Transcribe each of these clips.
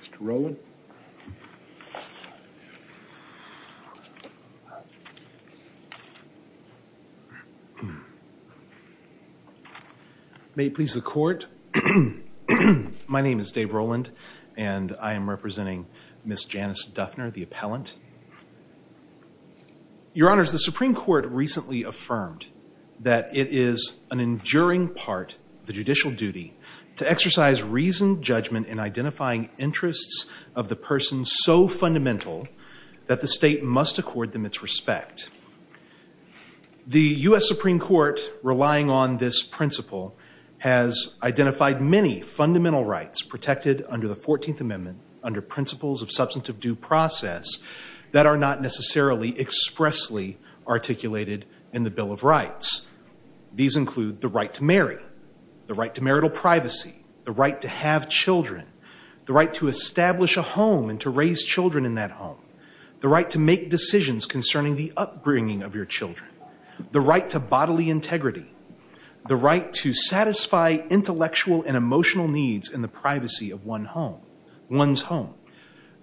Mr. Rowland. May it please the Court. My name is Dave Rowland and I am representing Miss Janice Duffner, the appellant. Your Honors, the Supreme Court recently affirmed that it is an enduring part of the judicial duty to exercise reasoned judgment in identifying interests of the person so fundamental that the state must accord them its respect. The U.S. Supreme Court, relying on this principle, has identified many fundamental rights protected under the 14th Amendment under principles of substantive due process that are not necessarily expressly articulated in the Bill of Rights. These include the right to marry, the right to marital privacy, the right to have children, the right to establish a home and to raise children in that home, the right to make decisions concerning the upbringing of your children, the right to bodily integrity, the right to satisfy intellectual and emotional needs in the privacy of one home, one's home.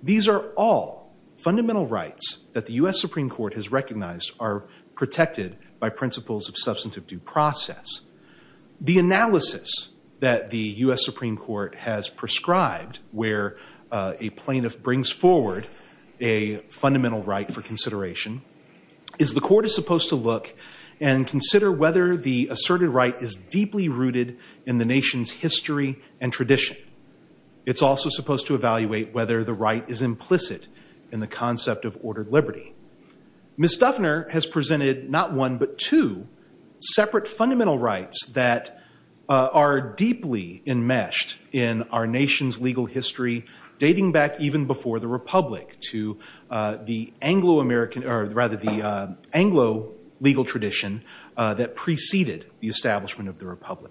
These are all fundamental rights that the U.S. Supreme Court has recognized are protected by principles of substantive due process. The analysis that the U.S. Supreme Court has prescribed where a plaintiff brings forward a fundamental right for consideration is the court is supposed to look and consider whether the asserted right is deeply rooted in the nation's history and tradition. It's also supposed to evaluate whether the right is implicit in the concept of ordered liberty. Ms. Stuffner has presented not one but two separate fundamental rights that are deeply enmeshed in our nation's legal history, dating back even before the Republic to the Anglo-American or rather the Anglo legal tradition that preceded the establishment of the Blackstone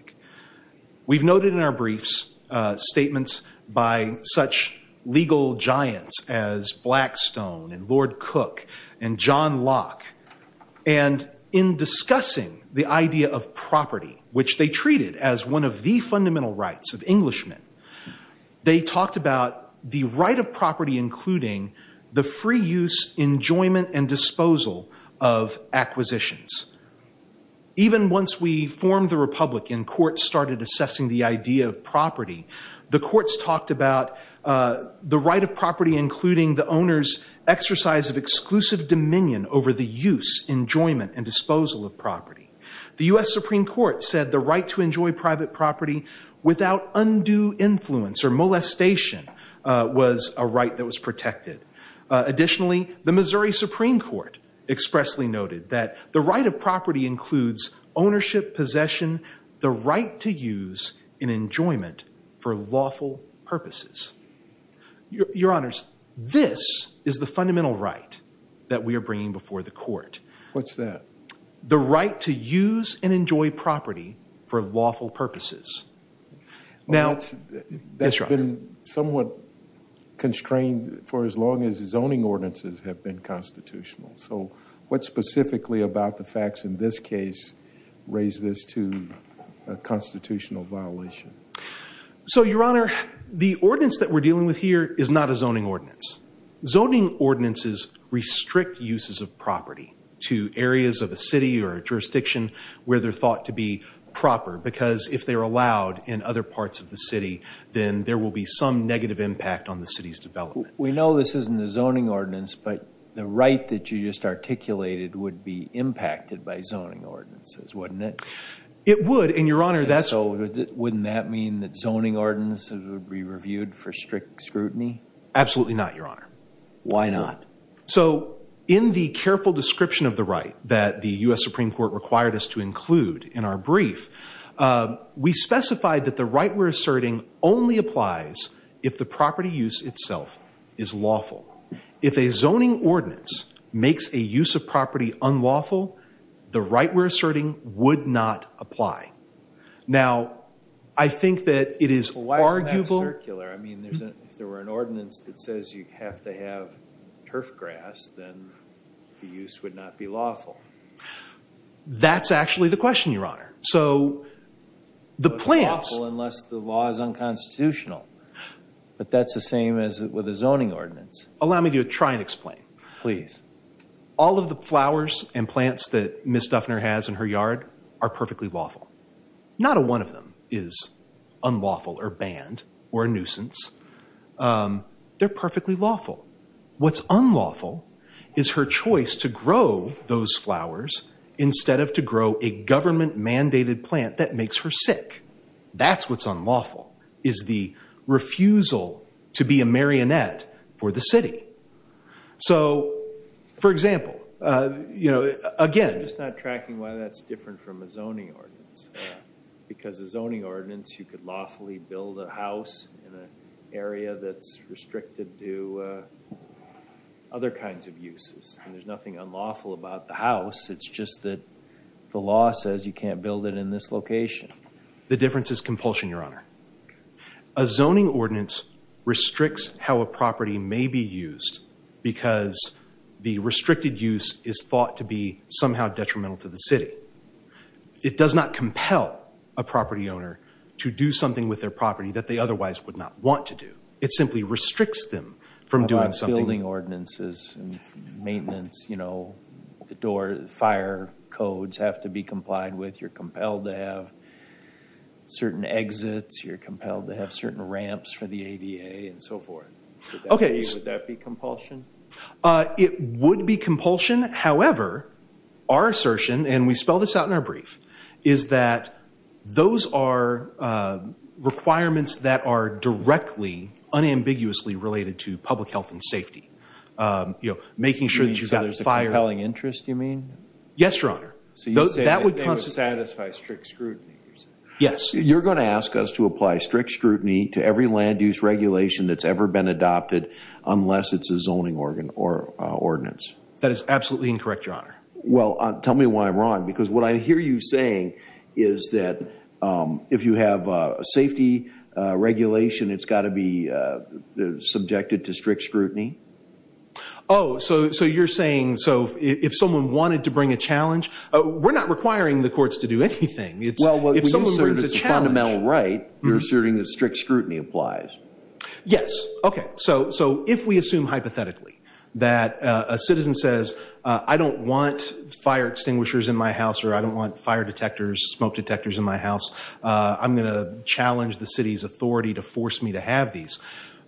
and Lord Cook and John Locke. And in discussing the idea of property, which they treated as one of the fundamental rights of Englishmen, they talked about the right of property including the free use, enjoyment, and disposal of acquisitions. Even once we formed the Republic and courts started assessing the idea of property, the courts talked about the right of property including the owner's exercise of exclusive dominion over the use, enjoyment, and disposal of property. The U.S. Supreme Court said the right to enjoy private property without undue influence or molestation was a right that was protected. Additionally, the Missouri Supreme Court expressly noted that the right of property includes ownership, possession, the right to use and enjoyment for lawful purposes. Your Honors, this is the fundamental right that we are bringing before the court. What's that? The right to use and enjoy property for lawful purposes. Now, that's been somewhat constrained for as long as in this case raise this to a constitutional violation. So, Your Honor, the ordinance that we're dealing with here is not a zoning ordinance. Zoning ordinances restrict uses of property to areas of a city or a jurisdiction where they're thought to be proper because if they're allowed in other parts of the city, then there will be some negative impact on the city's development. We know this isn't a zoning ordinance, but the right that you just articulated would be impacted by zoning ordinances, wouldn't it? It would, and Your Honor, that's... So, wouldn't that mean that zoning ordinances would be reviewed for strict scrutiny? Absolutely not, Your Honor. Why not? So, in the careful description of the right that the U.S. Supreme Court required us to include in our brief, we specified that the right we're asserting only applies if the property use itself is lawful. If a zoning ordinance makes a use of property unlawful, the right we're asserting would not apply. Now, I think that it is arguable... Well, why isn't that circular? I mean, if there were an ordinance that says you have to have turf grass, then the use would not be lawful. That's actually the question, Your Honor. So, the plans... It's unlawful unless the law is unconstitutional, but that's the same as with a zoning ordinance. Allow me to try and explain. Please. All of the flowers and plants that Ms. Duffner has in her yard are perfectly lawful. Not a one of them is unlawful or banned or a nuisance. They're perfectly lawful. What's unlawful is her choice to grow those flowers instead of to grow a government-mandated plant that makes her sick. That's what's unlawful, is the refusal to be a marionette for the city. So, for example, you know, again... I'm just not tracking why that's different from a zoning ordinance, because a zoning ordinance, you could lawfully build a house in an area that's restricted to other kinds of uses, and there's nothing unlawful about the house. It's just that the law says you can't build it in this location. The difference is compulsion, Your Honor. A zoning ordinance restricts how a property may be used because the restricted use is thought to be somehow detrimental to the city. It does not compel a property owner to do something with their property that they otherwise would not want to do. It simply restricts them from doing something. Building ordinances, maintenance, you know, the door, fire codes have to be exits, you're compelled to have certain ramps for the ADA, and so forth. Okay. Would that be compulsion? It would be compulsion. However, our assertion, and we spell this out in our brief, is that those are requirements that are directly, unambiguously related to public health and safety. You know, making sure that you've got fire... You mean there's a compelling interest, you mean? Yes, Your Honor. So you say that would satisfy strict scrutiny? Yes. You're going to ask us to apply strict scrutiny to every land-use regulation that's ever been adopted unless it's a zoning ordinance? That is absolutely incorrect, Your Honor. Well, tell me why I'm wrong, because what I hear you saying is that if you have a safety regulation, it's got to be subjected to strict scrutiny? Oh, so you're saying, so if someone wanted to bring a challenge... We're not requiring the courts to do anything. Well, if someone asserts it's a fundamental right, you're asserting that strict scrutiny applies? Yes. Okay, so if we assume hypothetically that a citizen says, I don't want fire extinguishers in my house, or I don't want fire detectors, smoke detectors in my house, I'm gonna challenge the city's authority to force me to have these,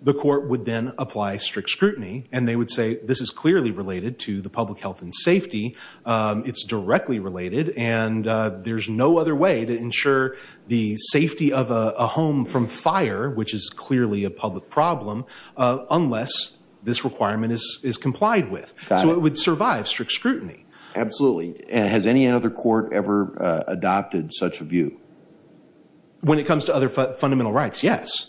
the court would then apply strict scrutiny, and they would say this is clearly related to the public health and safety, it's directly related, and there's no other way to ensure the safety of a home from fire, which is clearly a public problem, unless this requirement is complied with. So it would survive strict scrutiny. Absolutely. Has any other court ever adopted such a view? When it comes to other fundamental rights, yes.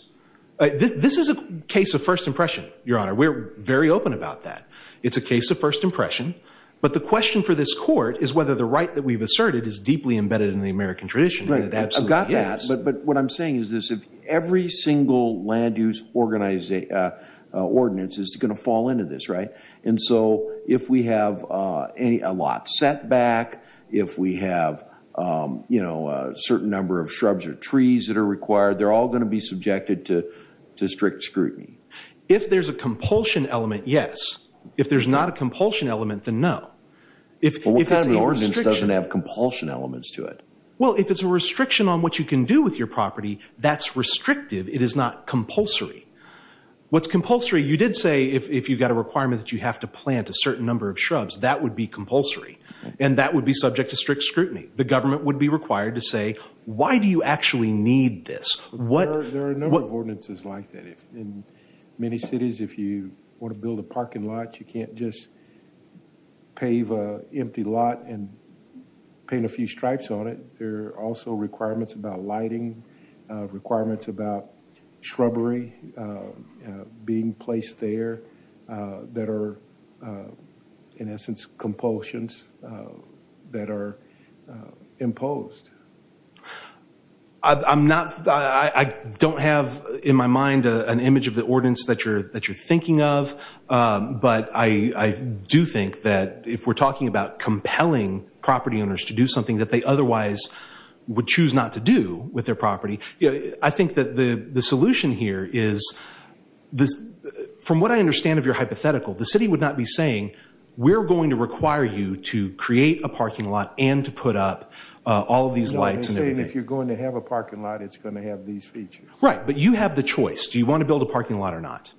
This is a case of first impression, Your Honor. We're very open about that. It's a case of first impression, but the question for this court is whether the right that we've asserted is deeply embedded in the American tradition. I've got that, but what I'm saying is this, if every single land-use ordinance is going to fall into this, right, and so if we have a lot set back, if we have, you know, a certain number of shrubs or trees that are required, they're all going to be If there's a compulsion element, yes. If there's not a compulsion element, then no. What kind of ordinance doesn't have compulsion elements to it? Well, if it's a restriction on what you can do with your property, that's restrictive. It is not compulsory. What's compulsory, you did say if you've got a requirement that you have to plant a certain number of shrubs, that would be compulsory, and that would be subject to strict scrutiny. The government would be required to say, why do you actually need this? There are a number of ordinances like that. In many cities, if you want to build a parking lot, you can't just pave an empty lot and paint a few stripes on it. There are also requirements about lighting, requirements about shrubbery being placed there that are, in essence, compulsions that are I don't have in my mind an image of the ordinance that you're thinking of, but I do think that if we're talking about compelling property owners to do something that they otherwise would choose not to do with their property, I think that the solution here is, from what I understand of your hypothetical, the city would not be saying, we're going to require you to create a parking lot and to put up all of these lights. If you're going to have a parking lot, it's going to have these features. Right, but you have the choice. Do you want to build a parking lot or not?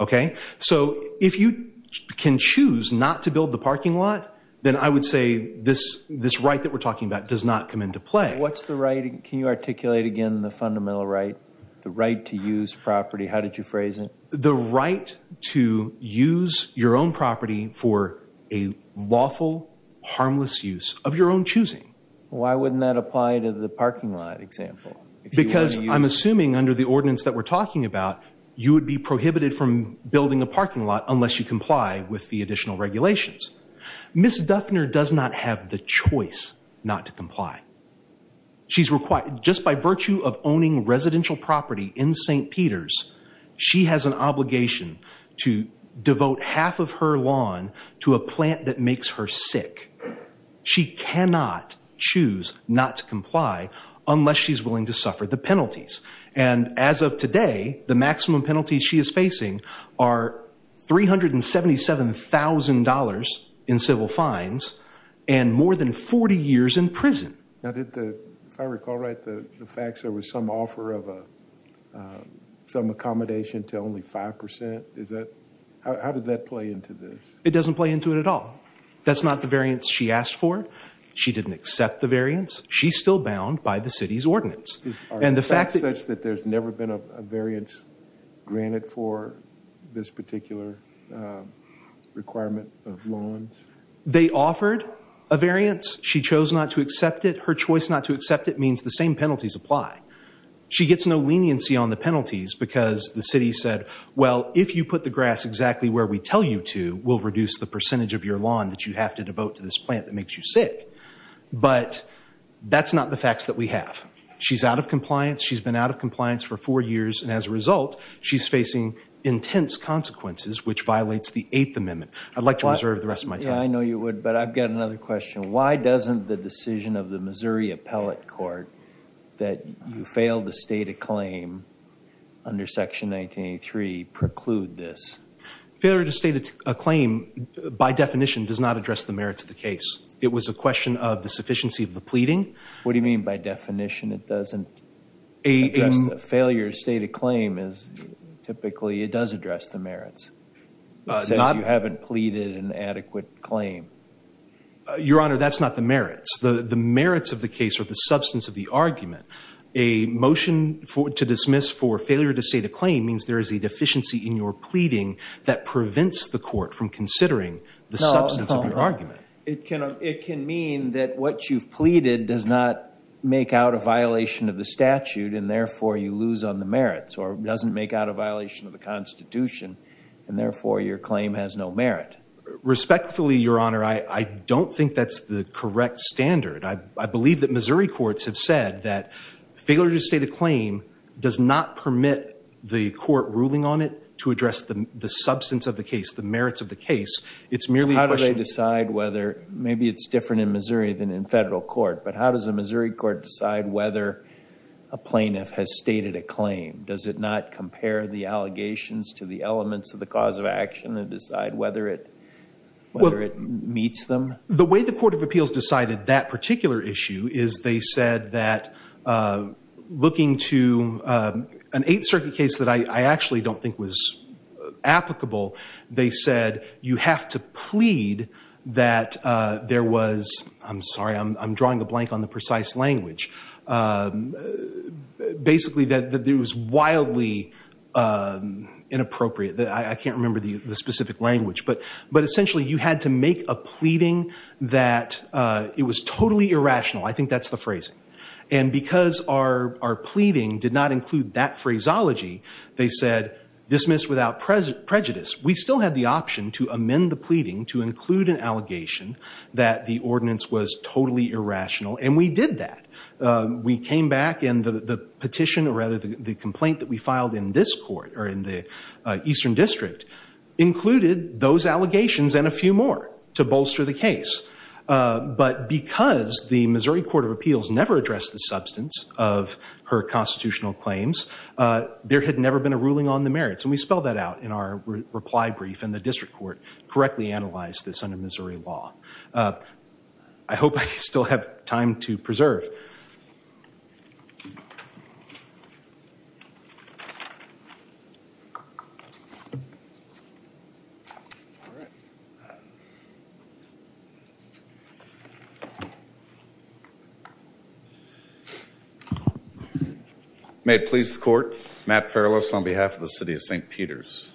Okay, so if you can choose not to build the parking lot, then I would say this right that we're talking about does not come into play. What's the right? Can you articulate again the fundamental right, the right to use property? How did you phrase it? The right to use your own property for a lawful, harmless use of your own choosing. Why wouldn't that apply to the parking lot example? Because I'm assuming under the ordinance that we're talking about, you would be prohibited from building a parking lot unless you comply with the additional regulations. Ms. Duffner does not have the choice not to comply. She's required, just by virtue of owning residential property in St. Peter's, she has an choose not to comply unless she's willing to suffer the penalties. And as of today, the maximum penalties she is facing are $377,000 in civil fines and more than 40 years in prison. Now did the, if I recall right, the facts there was some offer of some accommodation to only 5%? Is that, how did that play into this? It doesn't play into it at all. That's not the variance she asked for. She didn't accept the variance. She's still bound by the city's ordinance. And the fact that there's never been a variance granted for this particular requirement of lawns? They offered a variance. She chose not to accept it. Her choice not to accept it means the same penalties apply. She gets no leniency on the penalties because the city said, well if you put the grass exactly where we tell you to, we'll reduce the percentage of your lawn that you have to devote to this plant that makes you sick. But that's not the facts that we have. She's out of compliance. She's been out of compliance for four years and as a result, she's facing intense consequences which violates the Eighth Amendment. I'd like to reserve the rest of my time. I know you would, but I've got another question. Why doesn't the decision of the Missouri Appellate Court that you failed a state of claim under Section 1983 preclude this? Failure to state a claim, by definition, does not address the merits of the case. It was a question of the sufficiency of the pleading. What do you mean by definition it doesn't? A failure state of claim is typically, it does address the merits. It says you haven't pleaded an adequate claim. Your Honor, that's not the merits. The merits of the case are the substance of the argument. A motion to dismiss for failure to state a claim means there is a deficiency in your pleading that prevents the court from considering the substance of your argument. It can mean that what you've pleaded does not make out a violation of the statute and therefore you lose on the merits or doesn't make out a violation of the Constitution and therefore your claim has no merit. Respectfully, Your Honor, I believe that Missouri courts have said that failure to state a claim does not permit the court ruling on it to address the substance of the case, the merits of the case. It's merely... How do they decide whether, maybe it's different in Missouri than in federal court, but how does a Missouri court decide whether a plaintiff has stated a claim? Does it not compare the allegations to the elements of the cause of action and decide whether it meets them? The way the Court of Appeals decided that particular issue is they said that looking to an Eighth Circuit case that I actually don't think was applicable, they said you have to plead that there was... I'm sorry, I'm drawing a blank on the precise language. Basically that it was wildly inappropriate. I can't remember the specific language, but essentially you had to make a plea that it was totally irrational. I think that's the phrasing. And because our pleading did not include that phraseology, they said dismiss without prejudice. We still had the option to amend the pleading to include an allegation that the ordinance was totally irrational and we did that. We came back and the petition or rather the complaint that we filed in this court or in the Eastern District included those allegations and a few more to bolster the case. But because the Missouri Court of Appeals never addressed the substance of her constitutional claims, there had never been a ruling on the merits and we spelled that out in our reply brief and the district court correctly analyzed this under Missouri law. I hope I still have time to preserve. May it please the court, Matt Farrellis on behalf of the City of St. Peter's.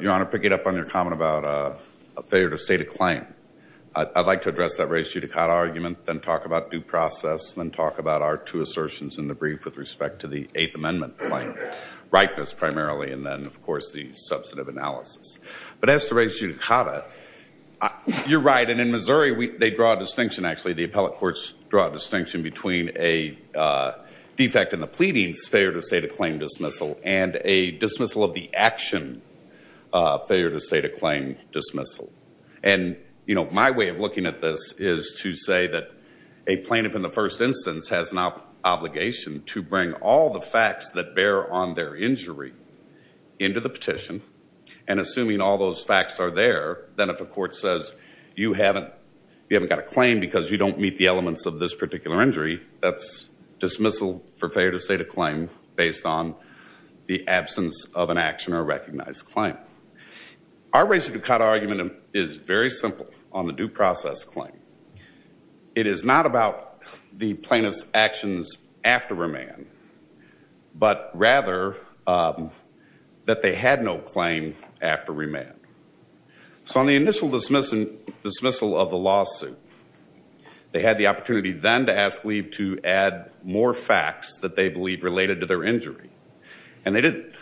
Your Honor, pick it up on your comment about a failure to state a claim. I'd like to address that res judicata argument, then talk about due process, then talk about our two assertions in the brief with respect to the Eighth Amendment claim, rightness primarily, and then of course the substantive analysis. But as to res judicata, you're right and in Missouri they draw a distinction actually. The appellate courts draw a distinction between a defect in the pleadings, failure to state a claim dismissal, and a dismissal of the action, failure to state a claim dismissal. And you know my way of looking at this is to say that a plaintiff in the first instance has an obligation to bring all the facts that bear on their injury into the petition, and assuming all those facts are there, then if a court says you haven't got a claim because you don't meet the elements of this particular injury, that's dismissal for failure to state a claim based on the absence of an action or recognized claim. Our res judicata argument is very simple on the due process claim. It is not about the plaintiff's actions after remand, but rather that they had no claim after remand. So on the initial dismissal of the lawsuit, they had the opportunity then to ask leave to add more facts that they believe related to their injury. And they didn't.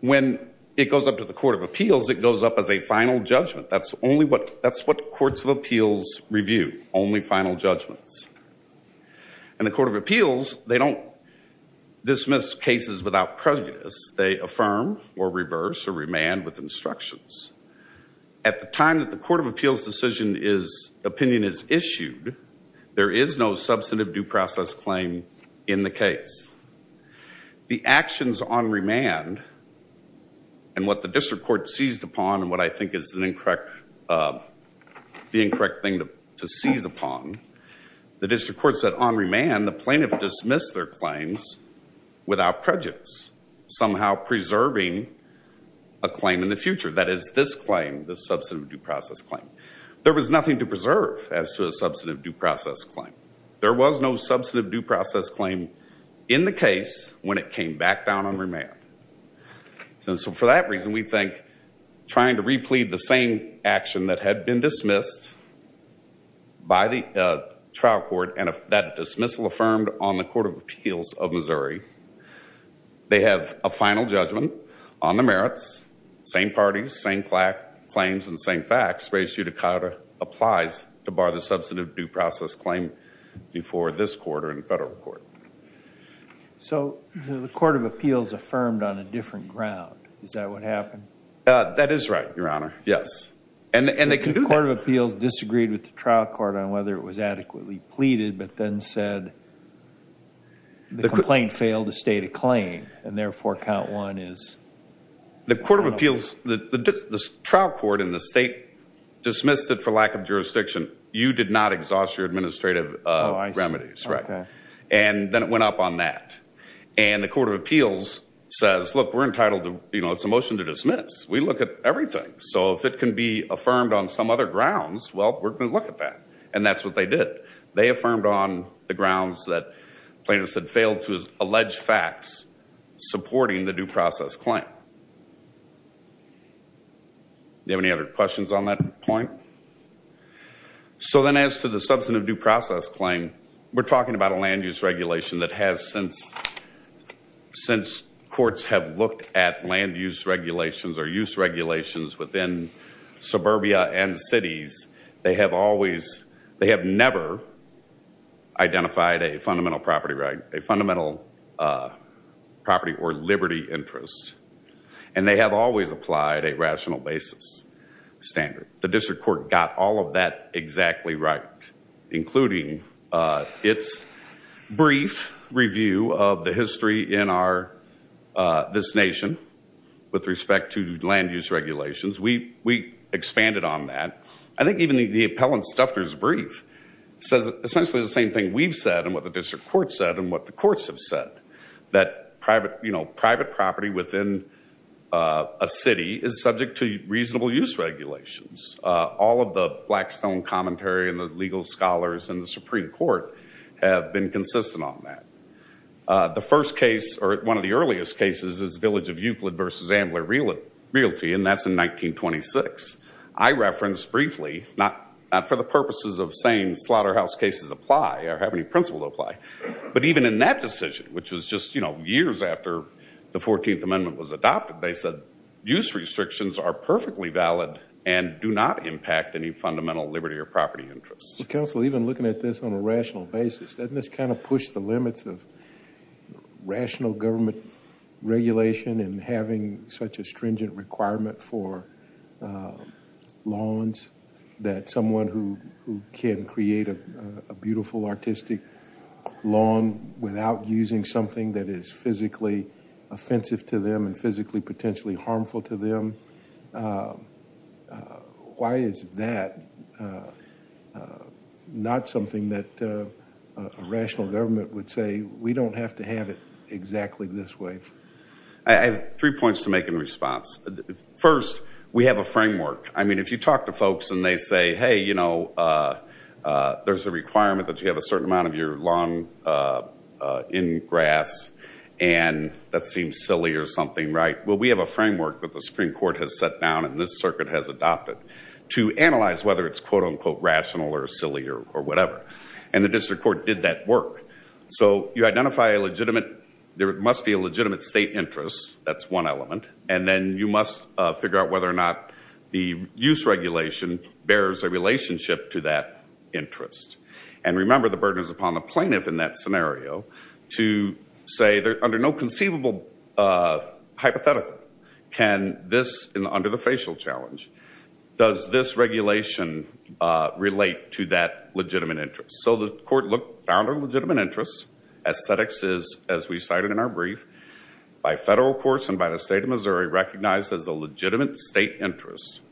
When it goes up to the Court of Appeals, it goes up as a final judgment. That's only what that's what courts of appeals review, only final judgments. And the Court of Appeals, they don't dismiss cases without prejudice. They affirm or reverse or remand with instructions. At the time that the Court of Appeals decision is opinion is issued, there is no substantive due process claim in the case. The actions on remand and what the district court seized upon and what I think is an incorrect, the incorrect thing to seize upon, the district court said on remand the claims without prejudice, somehow preserving a claim in the future. That is this claim, the substantive due process claim. There was nothing to preserve as to a substantive due process claim. There was no substantive due process claim in the case when it came back down on remand. So for that reason, we think trying to replead the same action that had been dismissed by the trial court and that dismissal affirmed on the Court of Appeals of Missouri, they have a final judgment on the merits, same parties, same claims and same facts raised to the court applies to bar the substantive due process claim before this court or in federal court. So the Court of Appeals affirmed on a different ground, is that what happened? That is right, Your Honor, yes. And they can do that. The Court of Appeals disagreed with the trial court on whether it was a claim to be repeated, but then said the complaint failed to state a claim and therefore count one is... The Court of Appeals, the trial court in the state dismissed it for lack of jurisdiction. You did not exhaust your administrative remedies, right? And then it went up on that. And the Court of Appeals says, look, we're entitled to, you know, it's a motion to dismiss. We look at everything. So if it can be affirmed on some other grounds, well, we're going to look at that. And that's what they did. They affirmed on the grounds that plaintiffs had failed to allege facts supporting the due process claim. Do you have any other questions on that point? So then as to the substantive due process claim, we're talking about a land-use regulation that has, since courts have looked at land-use regulations or use regulations within suburbia and cities, they have always, they have never identified a fundamental property right, a fundamental property or liberty interest. And they have always applied a rational basis standard. The district court got all of that exactly right, including its brief review of the history in our, this nation, with respect to land-use regulations. We expanded on that. I think even the appellant's stuffer's brief says essentially the same thing we've said and what the district court said and what the courts have said, that private, you know, private property within a city is subject to reasonable use regulations. All of the Blackstone commentary and the legal scholars and the Supreme Court have been consistent on that. The first case, or one of the earliest cases, is Village of Euclid versus Ambler Realty, and that's in 1926. I referenced briefly, not for the purposes of saying slaughterhouse cases apply or have any principle apply, but even in that decision, which was just, you know, years after the 14th Amendment was adopted, they said use restrictions are perfectly valid and do not impact any fundamental liberty or property interests. Counsel, even looking at this on a rational basis, doesn't this kind of push the limits of rational government regulation and having such a stringent requirement for lawns that someone who can create a beautiful artistic lawn without using something that is physically offensive to them and physically potentially harmful to them, why is that not something that a rational government would say, we don't have to have it exactly this way? I have three points to make in response. First, we have a framework. I mean, if you talk to folks and they say, hey, you know, there's a requirement that you have a certain amount of your lawn in grass and that seems silly or something, right? Well, we have a framework that the Supreme Court has set down and this circuit has adopted to analyze whether it's quote-unquote rational or silly or whatever, and the District Court did that work. So you identify a legitimate, there is one element, and then you must figure out whether or not the use regulation bears a relationship to that interest. And remember, the burden is upon the plaintiff in that scenario to say, under no conceivable hypothetical can this, under the facial challenge, does this regulation relate to that legitimate interest? So the court found a legitimate interest. Aesthetics is, as a state of Missouri, recognized as a legitimate state interest.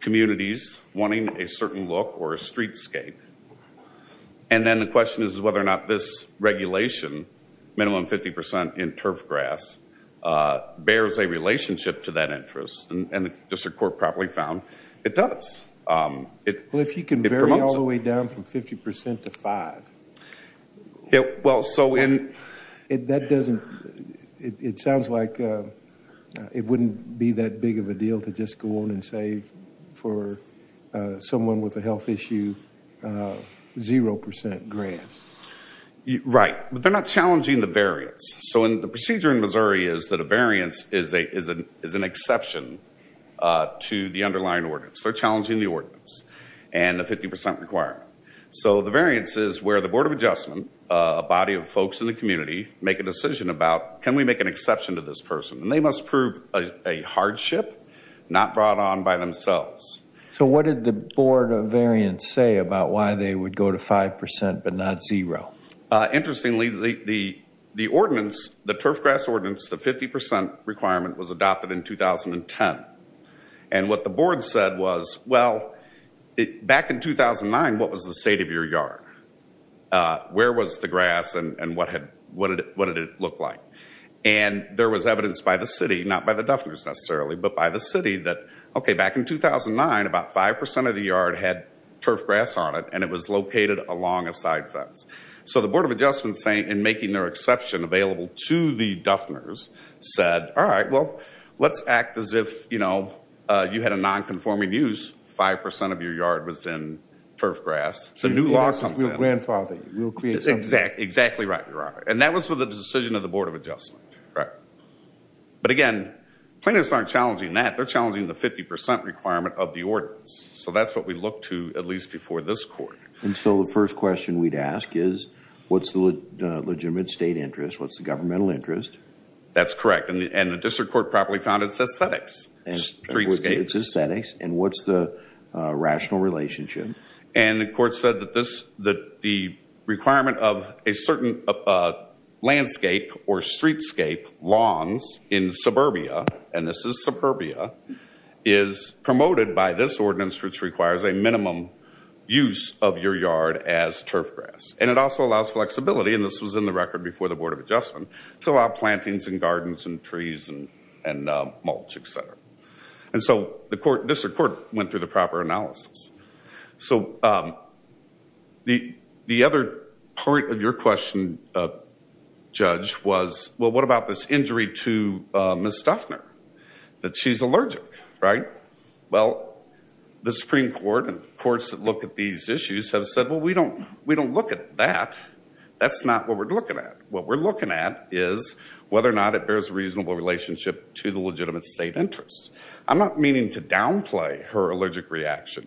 Communities wanting a certain look or a streetscape. And then the question is whether or not this regulation, minimum 50% in turf grass, bears a relationship to that interest. And the District Court probably found it does. Well, if you can vary all the way down from 50% to 5, that doesn't, it sounds like it wouldn't be that big of a deal to just go on and say for someone with a health issue, 0% grass. Right. But they're not challenging the variance. So the procedure in Missouri is that a variance is an exception to the underlying ordinance. They're challenging the ordinance and the 50% requirement. So the variance is where the Board of Adjustment, a body of folks in the community, make a decision about, can we make an exception to this person? And they must prove a hardship not brought on by themselves. So what did the Board of Variance say about why they would go to 5% but not 0? Interestingly, the ordinance, the turf grass ordinance, the 50% requirement, was adopted in 2010. And what the Board said was, well, back in 2009, what was the state of your yard? Where was the grass and what did it look like? And there was evidence by the city, not by the Duffners necessarily, but by the city that, okay, back in 2009, about 5% of the yard had turf grass on it and it was located along a side fence. So the Board of Adjustment, in making their exception available to the Duffners, said, all right, well, let's act as if, you know, you had a non-conforming use, 5% of your yard was in turf grass. So a new law comes in. Your grandfather will create something. Exactly right, Your Honor. And that was for the decision of the Board of Adjustment. Right. But again, plaintiffs aren't challenging that. They're challenging the 50% requirement of the ordinance. So that's what we look to, at least before this court. And so the first question we'd ask is, what's the legitimate state interest? What's the governmental interest? That's correct. And the district court properly found it's And what's the rational relationship? And the court said that the requirement of a certain landscape or streetscape, longs, in suburbia, and this is suburbia, is promoted by this ordinance, which requires a minimum use of your yard as turf grass. And it also allows flexibility, and this was in the record before the Board of Adjustment, to allow plantings and gardens and trees and mulch, et cetera. And so the district court went through the proper analysis. So the other part of your question, Judge, was, well, what about this injury to Ms. Stuckner, that she's allergic, right? Well, the Supreme Court and the courts that look at these issues have said, well, we don't look at that. That's not what we're looking at. What we're looking at is whether or not it bears a reasonable relationship to the legitimate state interest. I'm not meaning to downplay her allergic reaction,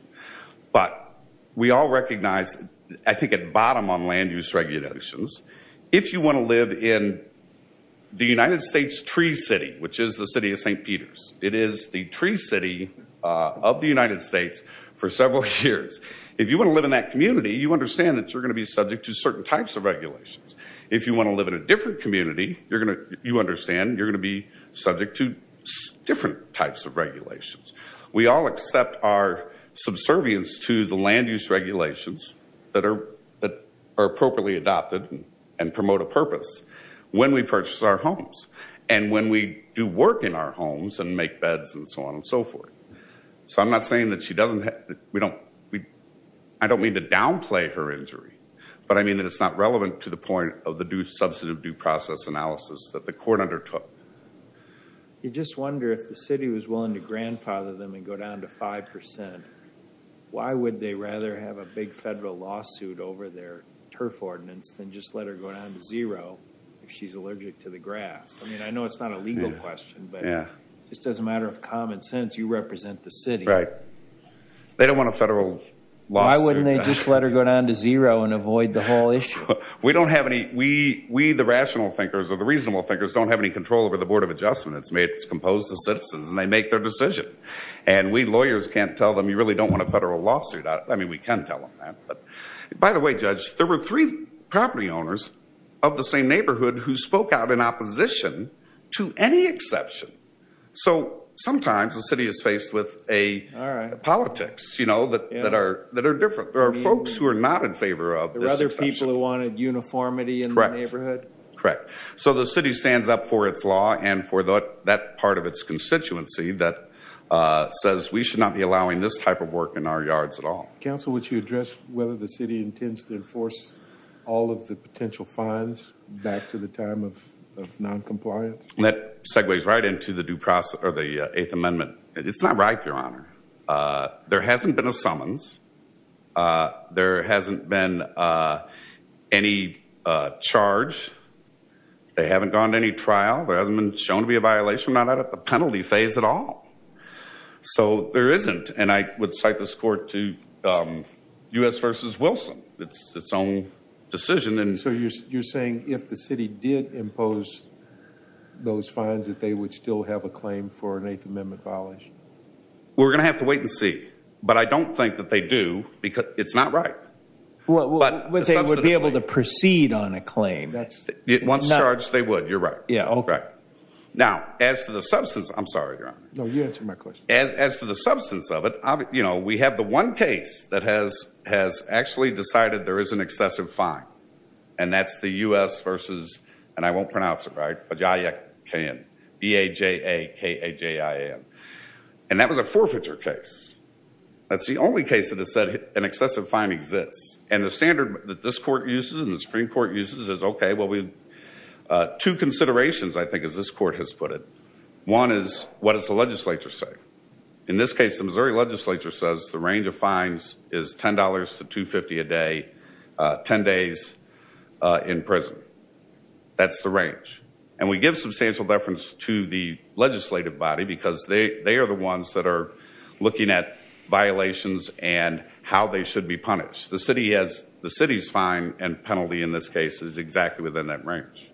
but we all recognize, I think at bottom on land use regulations, if you want to live in the United States tree city, which is the city of St. Peter's, it is the tree city of the United States for several years. If you want to live in that community, you understand that you're going to be subject to certain types of regulations. If you want to live in a different community, you understand you're going to be subject to different types of regulations. We all accept our subservience to the land use regulations that are appropriately adopted and promote a purpose when we purchase our homes and when we do work in our homes and make beds and so on and so forth. So I'm not saying that she doesn't have, we don't, I don't mean to downplay her injury, but I mean that it's not relevant to the point of the due process analysis that the court undertook. You just wonder if the city was willing to grandfather them and go down to 5%, why would they rather have a big federal lawsuit over their turf ordinance than just let her go down to zero if she's allergic to the grass? I mean, I know it's not a legal question, but it's just a matter of common sense. You represent the city. Right. They don't want a federal lawsuit. Why wouldn't they just let her go down to zero and avoid the whole thing? We the rational thinkers or the reasonable thinkers don't have any control over the Board of Adjustment. It's made, it's composed of citizens and they make their decision. And we lawyers can't tell them you really don't want a federal lawsuit. I mean, we can tell them that. By the way, Judge, there were three property owners of the same neighborhood who spoke out in opposition to any exception. So sometimes the city is faced with a politics, you know, that are different. There are folks who are not in favor of this exception. There are other people who wanted uniformity in the neighborhood. Correct. So the city stands up for its law and for that part of its constituency that says we should not be allowing this type of work in our yards at all. Counsel, would you address whether the city intends to enforce all of the potential fines back to the time of non-compliance? That segues right into the due process or the Eighth Amendment. It's not right, Your Honor. There hasn't been any charge. They haven't gone to any trial. There hasn't been shown to be a violation, not at the penalty phase at all. So there isn't. And I would cite this court to U.S. v. Wilson. It's its own decision. So you're saying if the city did impose those fines that they would still have a claim for an Eighth Amendment violation? We're gonna have to wait and see. But I don't think that they do because it's not right. But they would be able to proceed on a claim. Once charged, they would. You're right. Yeah. Okay. Now, as to the substance, I'm sorry, Your Honor. No, you answer my question. As to the substance of it, you know, we have the one case that has actually decided there is an excessive fine. And that's the U.S. versus, and I won't pronounce it right, B-A-J-A-K-A-J-I-N. And that was a forfeiture case. That's the only case that has said an excessive fine exists. And the standard that this court uses and the Supreme Court uses is, okay, well, we have two considerations, I think, as this court has put it. One is, what does the legislature say? In this case, the Missouri legislature says the range of fines is $10 to $2.50 a day, 10 days in prison. That's the range. And we give substantial deference to the legislative body because they are the ones that are looking at violations and how they should be punished. The city has, the city's fine and penalty in this case is exactly within that range.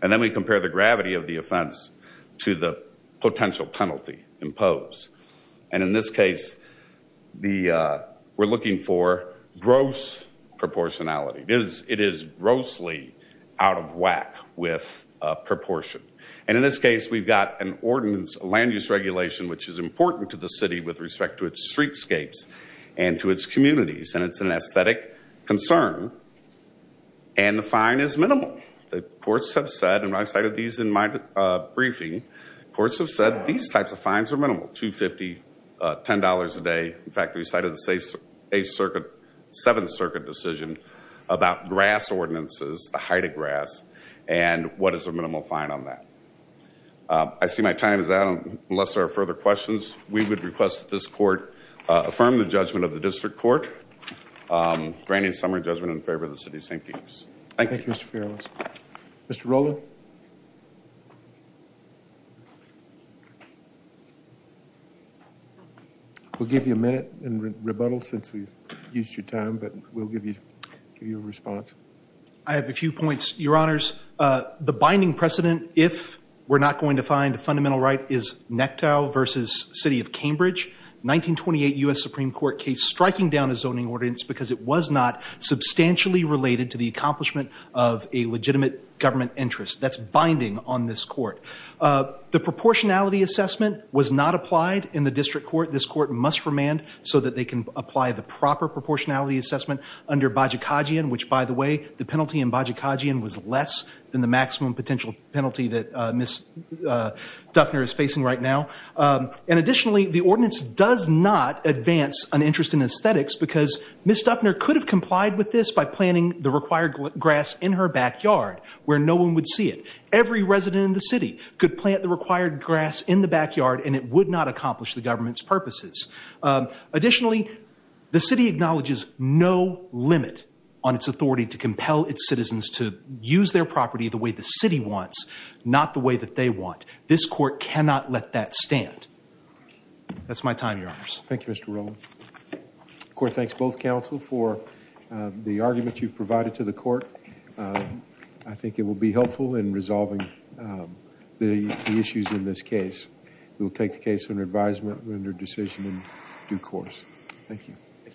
And then we compare the gravity of the offense to the potential penalty imposed. And in this case, we're looking for gross proportionality. It is grossly out of whack with proportion. And in this case, we've got an ordinance, a land use regulation, which is important to the city with respect to its streetscapes and to its communities. And it's an aesthetic concern. And the fine is minimal. The courts have said, and I cited these in my briefing, courts have said these types of fines are minimal, $2.50, $10 a day. In fact, we cited the Seventh Circuit decision about grass ordinances, the height of grass, and what is the minimal fine on that. I see my time is out. Unless there are further questions, we would request that this court affirm the judgment of the district court. Granted summary judgment in favor of the city of St. Petersburg. Thank you. Mr. Ferrellis. Mr. Rowland? We'll give you a minute in rebuttal since we've used your time, but we'll give you your response. I have a few points, Your Honors. The binding precedent, if we're not going to find a fundamental right, is Nectow versus City of Cambridge. 1928 U.S. Supreme Court case striking down a zoning ordinance because it was not substantially related to the accomplishment of a legitimate government interest. That's binding on this court. The proportionality assessment was not applied in the district court. This court must remand so that they can apply the proper proportionality assessment under Bajikagian, which by the way, the penalty in Bajikagian was less than the maximum potential penalty that Ms. Duffner is facing right now. And additionally, the ordinance does not advance an interest in aesthetics because Ms. Duffner could have complied with this by planting the required grass in her backyard where no one would see it. Every resident in the city could plant the required grass in the backyard and it would not accomplish the government's purposes. Additionally, the city acknowledges no limit on its authority to compel its citizens to use their property the way the city wants, not the way that they want. This court cannot let that stand. That's my time, Your Honors. Thank you, Mr. Rowland. The court thanks both counsel for the argument you've made in resolving the issues in this case. We'll take the case under advisement, render decision in due course. Thank you.